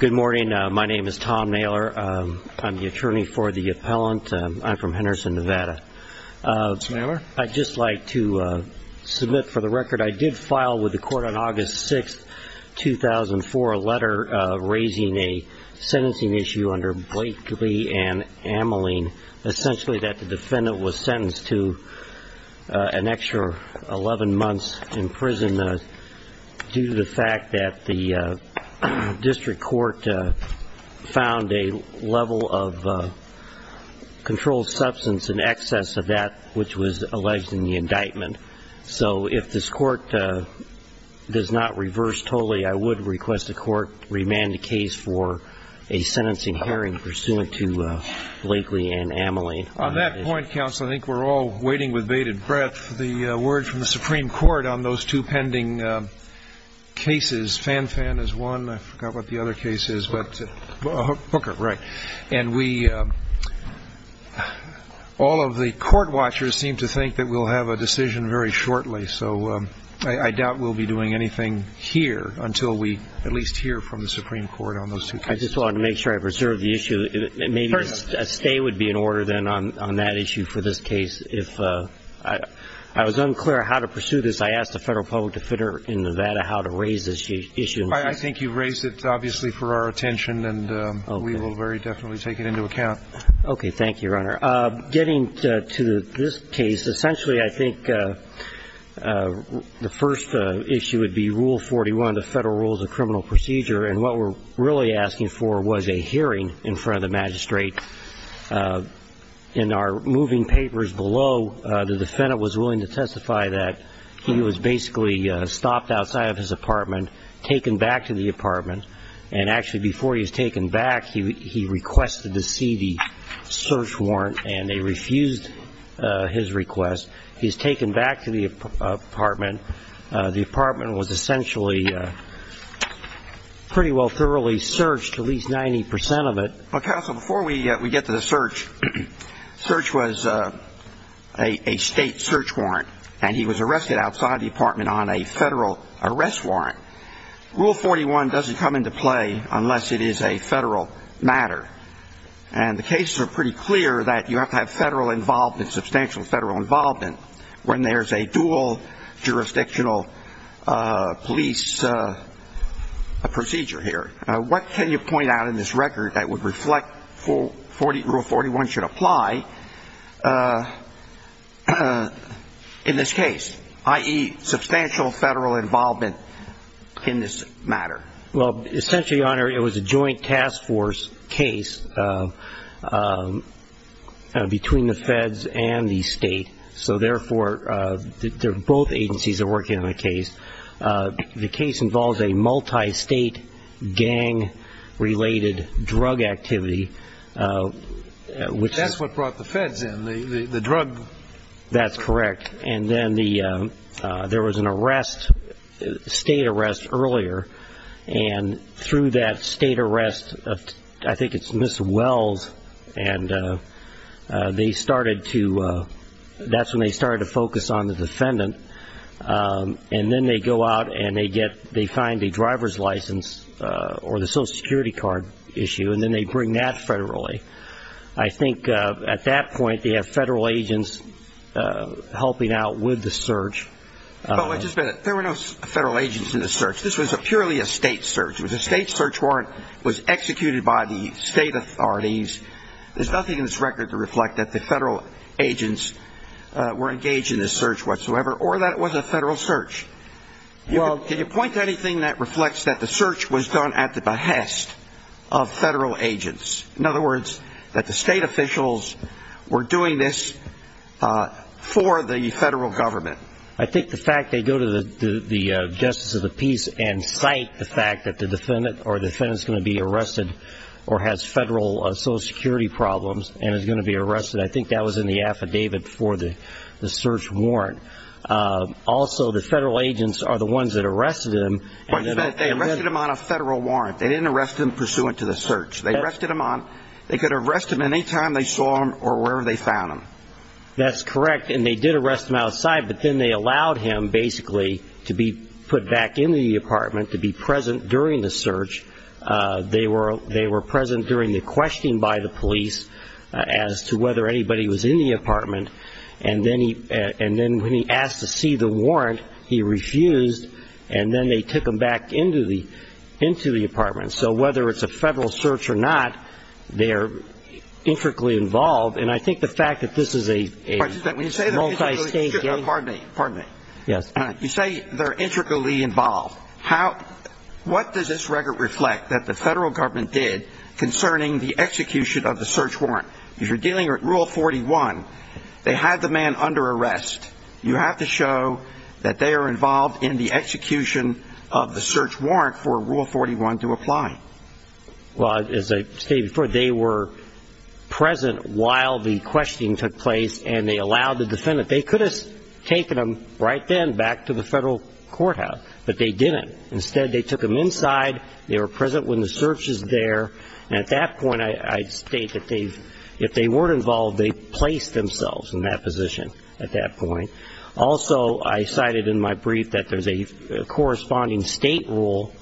Good morning. My name is Tom Naylor. I'm the attorney for the appellant. I'm from Henderson, Nevada. I'd just like to submit for the record I did file with the court on August 6, 2004, a letter raising a sentencing issue under Blakely and Ameling, and essentially that the defendant was sentenced to an extra 11 months in prison due to the fact that the district court found a level of controlled substance in excess of that which was alleged in the indictment. So if this court does not reverse totally, I would request the court remand the case for a sentencing hearing pursuant to Blakely and Ameling. On that point, counsel, I think we're all waiting with bated breath for the word from the Supreme Court on those two pending cases. This Fanfan is one. I forgot what the other case is. Hooker, right. And all of the court watchers seem to think that we'll have a decision very shortly, so I doubt we'll be doing anything here until we at least hear from the Supreme Court on those two cases. I just wanted to make sure I preserved the issue. Maybe a stay would be in order then on that issue for this case. If I was unclear how to pursue this, I asked the federal public defender in Nevada how to raise this issue. I think you raised it, obviously, for our attention, and we will very definitely take it into account. Okay. Thank you, Your Honor. Getting to this case, essentially I think the first issue would be Rule 41, the Federal Rules of Criminal Procedure, and what we're really asking for was a hearing in front of the magistrate. In our moving papers below, the defendant was willing to testify that he was basically stopped outside of his apartment, taken back to the apartment, and actually before he was taken back, he requested to see the search warrant, and they refused his request. He was taken back to the apartment. The apartment was essentially pretty well thoroughly searched, at least 90 percent of it. Counsel, before we get to the search, search was a state search warrant, and he was arrested outside the apartment on a federal arrest warrant. Rule 41 doesn't come into play unless it is a federal matter, and the cases are pretty clear that you have to have federal involvement, substantial federal involvement, when there's a dual jurisdictional police procedure here. What can you point out in this record that would reflect Rule 41 should apply in this case, i.e., substantial federal involvement in this matter? Well, essentially, Your Honor, it was a joint task force case between the feds and the state, so therefore both agencies are working on the case. The case involves a multi-state gang-related drug activity. That's what brought the feds in, the drug? That's correct. And then there was an arrest, state arrest earlier, and through that state arrest, I think it's Ms. Wells, and that's when they started to focus on the defendant, and then they go out and they find a driver's license or the Social Security card issue, and then they bring that federally. I think at that point they have federal agents helping out with the search. But wait just a minute. There were no federal agents in the search. This was purely a state search. It was a state search warrant. It was executed by the state authorities. There's nothing in this record to reflect that the federal agents were engaged in this search whatsoever, or that it was a federal search. Well, can you point to anything that reflects that the search was done at the behest of federal agents? In other words, that the state officials were doing this for the federal government? I think the fact they go to the Justice of the Peace and cite the fact that the defendant is going to be arrested or has federal Social Security problems and is going to be arrested, I think that was in the affidavit for the search warrant. Also, the federal agents are the ones that arrested him. Wait a minute. They arrested him on a federal warrant. They didn't arrest him pursuant to the search. They arrested him on, they could arrest him any time they saw him or wherever they found him. That's correct, and they did arrest him outside, but then they allowed him basically to be put back into the apartment to be present during the search. They were present during the questioning by the police as to whether anybody was in the apartment, and then when he asked to see the warrant, he refused, and then they took him back into the apartment. So whether it's a federal search or not, they're intricately involved, and I think the fact that this is a multi-state case. Pardon me. Yes. You say they're intricately involved. What does this record reflect that the federal government did concerning the execution of the search warrant? If you're dealing with Rule 41, they had the man under arrest. You have to show that they are involved in the execution of the search warrant for Rule 41 to apply. Well, as I stated before, they were present while the questioning took place, and they allowed the defendant. They could have taken him right then back to the federal courthouse, but they didn't. Instead, they took him inside. They were present when the search was there, and at that point I'd state that if they weren't involved, they placed themselves in that position at that point. Also, I cited in my brief that there's a corresponding state rule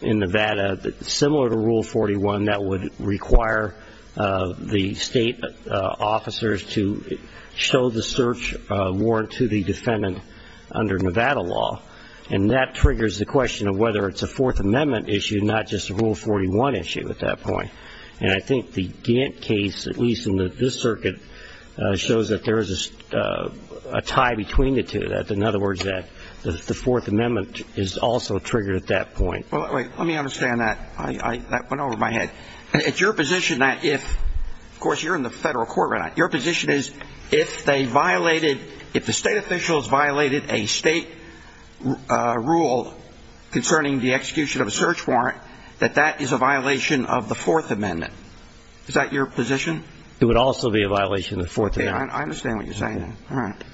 in Nevada similar to Rule 41 that would require the state officers to show the search warrant to the defendant under Nevada law, and that triggers the question of whether it's a Fourth Amendment issue, not just a Rule 41 issue at that point. And I think the Gantt case, at least in this circuit, shows that there is a tie between the two. In other words, that the Fourth Amendment is also triggered at that point. Well, wait. Let me understand that. That went over my head. It's your position that if of course you're in the federal court right now. Your position is if the state officials violated a state rule concerning the execution of a search warrant, that that is a violation of the Fourth Amendment. Is that your position? It would also be a violation of the Fourth Amendment. All right.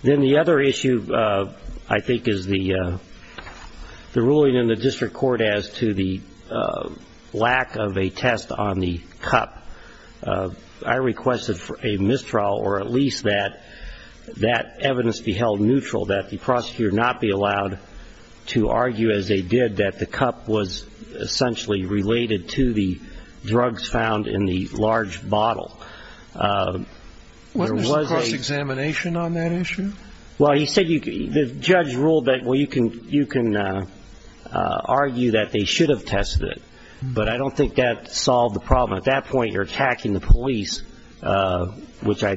Then the other issue, I think, is the ruling in the district court as to the lack of a test on the cup. I requested a mistrial or at least that that evidence be held neutral, that the prosecutor not be allowed to argue as they did that the cup was essentially related to the drugs found in the large bottle. Wasn't this a cross-examination on that issue? Well, the judge ruled that you can argue that they should have tested it. But I don't think that solved the problem. At that point, you're attacking the police, which I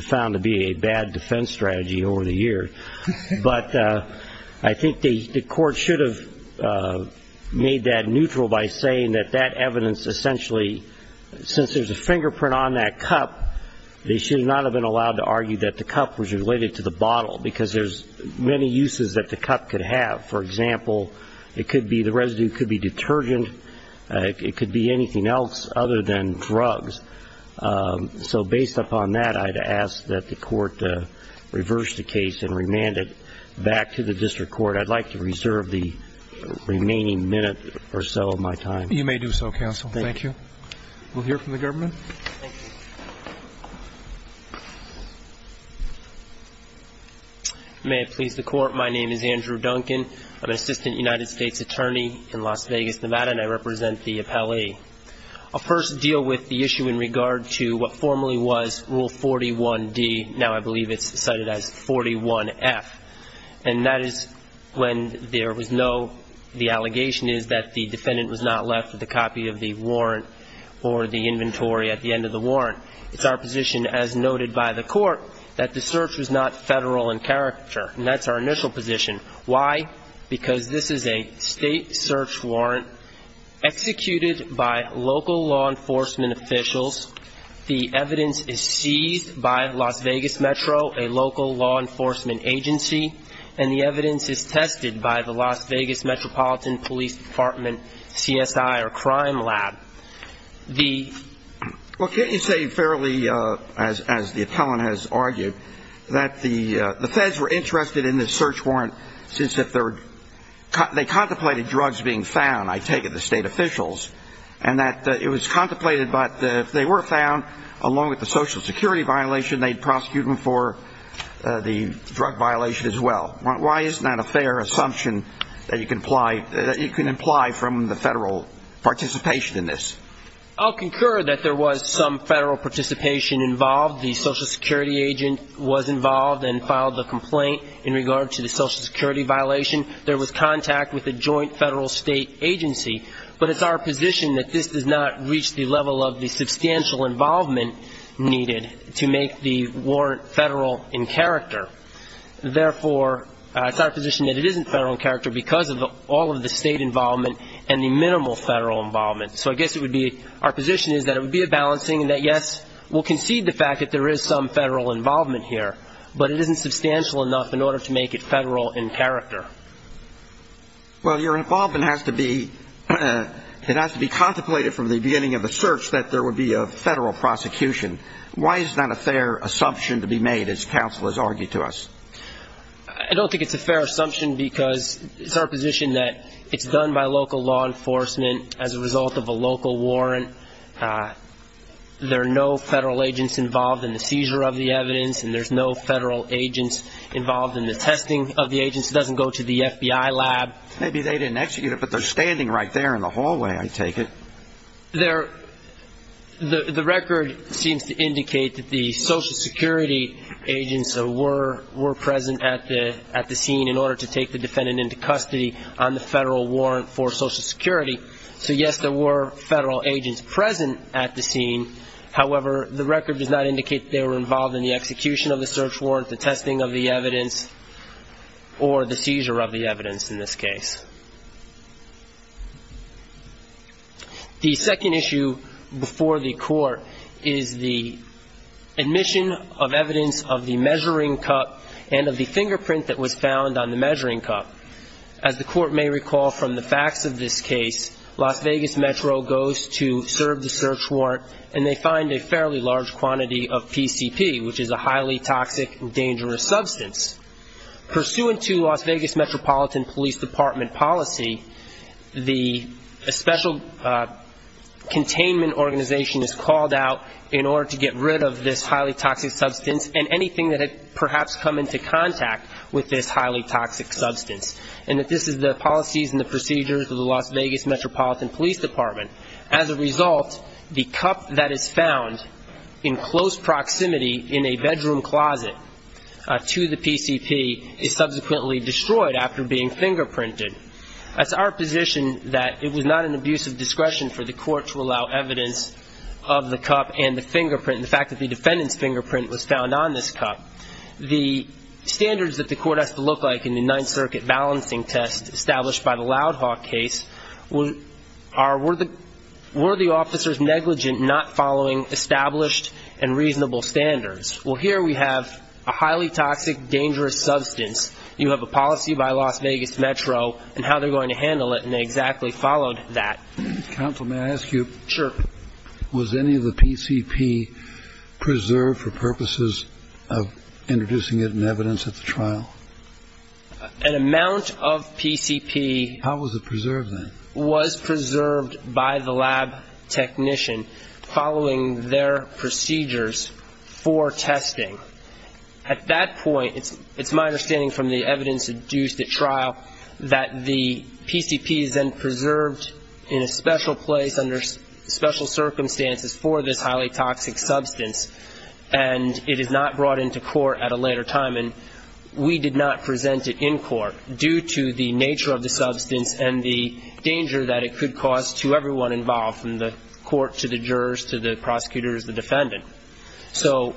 found to be a bad defense strategy over the years. But I think the court should have made that neutral by saying that that evidence essentially, since there's a fingerprint on that cup, they should not have been allowed to argue that the cup was related to the bottle because there's many uses that the cup could have. For example, it could be the residue could be detergent. It could be anything else other than drugs. So based upon that, I'd ask that the court reverse the case and remand it back to the district court. I'd like to reserve the remaining minute or so of my time. You may do so, counsel. Thank you. We'll hear from the government. Thank you. May it please the court, my name is Andrew Duncan. I'm an assistant United States attorney in Las Vegas, Nevada, and I represent the appellee. I'll first deal with the issue in regard to what formerly was Rule 41D. Now I believe it's cited as 41F. And that is when there was no, the allegation is that the defendant was not left with a copy of the warrant or the inventory at the end of the warrant. It's our position, as noted by the court, that the search was not federal in character. And that's our initial position. Why? Because this is a state search warrant executed by local law enforcement officials. The evidence is seized by Las Vegas Metro, a local law enforcement agency, and the evidence is tested by the Las Vegas Metropolitan Police Department CSI or Crime Lab. The ---- Well, can't you say fairly, as the appellant has argued, that the feds were interested in this search warrant since they contemplated drugs being found, I take it, the state officials, and that it was contemplated, but if they were found, along with the Social Security violation, they'd prosecute them for the drug violation as well. Why isn't that a fair assumption that you can imply from the federal participation in this? I'll concur that there was some federal participation involved. The Social Security agent was involved and filed the complaint in regard to the Social Security violation. There was contact with a joint federal state agency. But it's our position that this does not reach the level of the substantial involvement needed to make the warrant federal in character. Therefore, it's our position that it isn't federal in character because of all of the state involvement and the minimal federal involvement. So I guess it would be ---- our position is that it would be a balancing and that, yes, we'll concede the fact that there is some federal involvement here, but it isn't substantial enough in order to make it federal in character. Well, your involvement has to be ---- it has to be contemplated from the beginning of the search that there would be a federal prosecution. Why is that a fair assumption to be made, as counsel has argued to us? I don't think it's a fair assumption because it's our position that it's done by local law enforcement as a result of a local warrant. There are no federal agents involved in the seizure of the evidence, and there's no federal agents involved in the testing of the agents. It doesn't go to the FBI lab. Maybe they didn't execute it, but they're standing right there in the hallway, I take it. The record seems to indicate that the Social Security agents were present at the scene in order to take the defendant into custody on the federal warrant for Social Security. So, yes, there were federal agents present at the scene. However, the record does not indicate they were involved in the execution of the search warrant, the testing of the evidence, or the seizure of the evidence in this case. The second issue before the court is the admission of evidence of the measuring cup and of the fingerprint that was found on the measuring cup. As the court may recall from the facts of this case, Las Vegas Metro goes to serve the search warrant, and they find a fairly large quantity of PCP, which is a highly toxic, dangerous substance. Pursuant to Las Vegas Metropolitan Police Department policy, a special containment organization is called out in order to get rid of this highly toxic substance and anything that had perhaps come into contact with this highly toxic substance. And this is the policies and the procedures of the Las Vegas Metropolitan Police Department. As a result, the cup that is found in close proximity in a bedroom closet to the PCP is subsequently destroyed after being fingerprinted. It's our position that it was not an abuse of discretion for the court to allow evidence of the cup and the fingerprint, the fact that the defendant's fingerprint was found on this cup. The standards that the court has to look like in the Ninth Circuit balancing test established by the Loud Hawk case were the officers negligent not following established and reasonable standards? Well, here we have a highly toxic, dangerous substance. You have a policy by Las Vegas Metro and how they're going to handle it, and they exactly followed that. Counsel, may I ask you? Sure. Was any of the PCP preserved for purposes of introducing it in evidence at the trial? An amount of PCP. How was it preserved then? It was preserved by the lab technician following their procedures for testing. At that point, it's my understanding from the evidence induced at trial that the PCP is then preserved in a special place under special circumstances for this highly toxic substance, and it is not brought into court at a later time. And we did not present it in court due to the nature of the substance and the danger that it could cause to everyone involved from the court to the jurors to the prosecutors, the defendant. So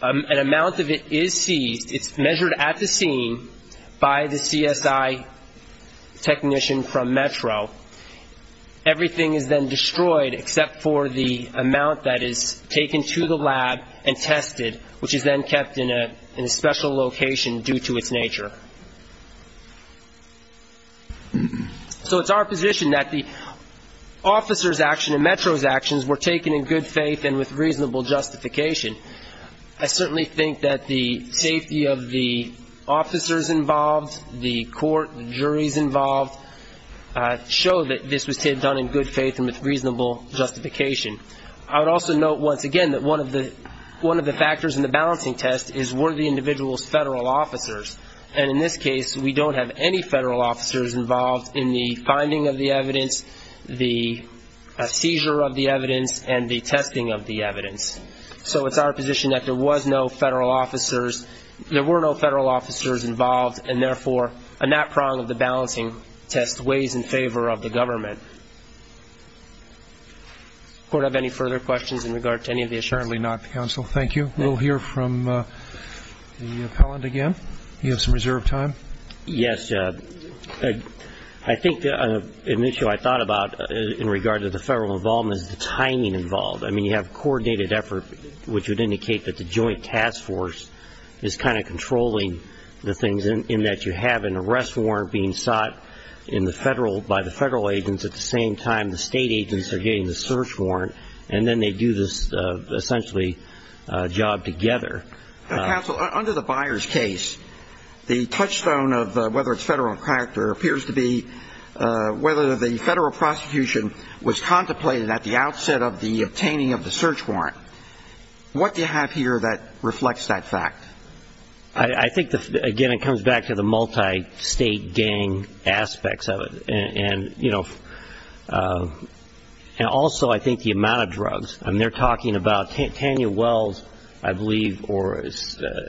an amount of it is seized. It's measured at the scene by the CSI technician from Metro. Everything is then destroyed except for the amount that is taken to the lab and tested, which is then kept in a special location due to its nature. So it's our position that the officers' action and Metro's actions were taken in good faith and with reasonable justification. I certainly think that the safety of the officers involved, the court, the juries involved, show that this was done in good faith and with reasonable justification. I would also note once again that one of the factors in the balancing test is were the individuals federal officers. And in this case, we don't have any federal officers involved in the finding of the evidence, the seizure of the evidence, and the testing of the evidence. So it's our position that there was no federal officers, there were no federal officers involved, and therefore a nap prong of the balancing test weighs in favor of the government. Does the court have any further questions in regard to any of the issues? Certainly not, counsel. Thank you. We'll hear from the appellant again. You have some reserved time. Yes. I think an issue I thought about in regard to the federal involvement is the timing involved. I mean, you have coordinated effort, which would indicate that the joint task force is kind of controlling the things, in that you have an arrest warrant being sought in the federal, by the federal agents. At the same time, the state agents are getting the search warrant, and then they do this essentially job together. Counsel, under the Byers case, the touchstone of whether it's federal in character appears to be whether the federal prosecution was contemplated at the outset of the obtaining of the search warrant. What do you have here that reflects that fact? I think, again, it comes back to the multi-state gang aspects of it. And, you know, also I think the amount of drugs. I mean, they're talking about Tanya Wells, I believe, or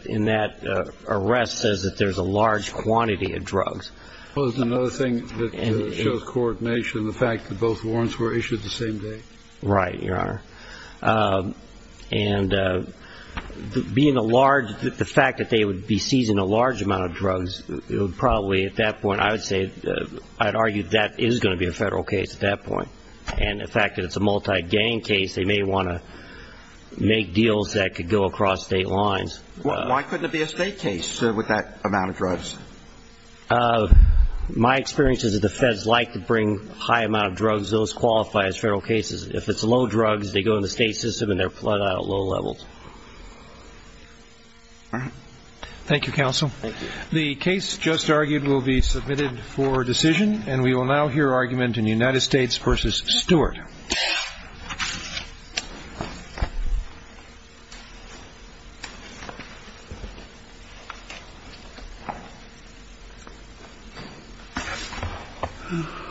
in that arrest says that there's a large quantity of drugs. Well, there's another thing that shows coordination, the fact that both warrants were issued the same day. Right, Your Honor. And being a large, the fact that they would be seizing a large amount of drugs, it would probably at that point, I would say, I'd argue that is going to be a federal case at that point. And the fact that it's a multi-gang case, they may want to make deals that could go across state lines. Why couldn't it be a state case with that amount of drugs? My experience is that the feds like to bring a high amount of drugs. Those qualify as federal cases. If it's low drugs, they go in the state system and they're plotted out at low levels. Thank you, counsel. Thank you. The case just argued will be submitted for decision, and we will now hear argument in United States v. Stewart.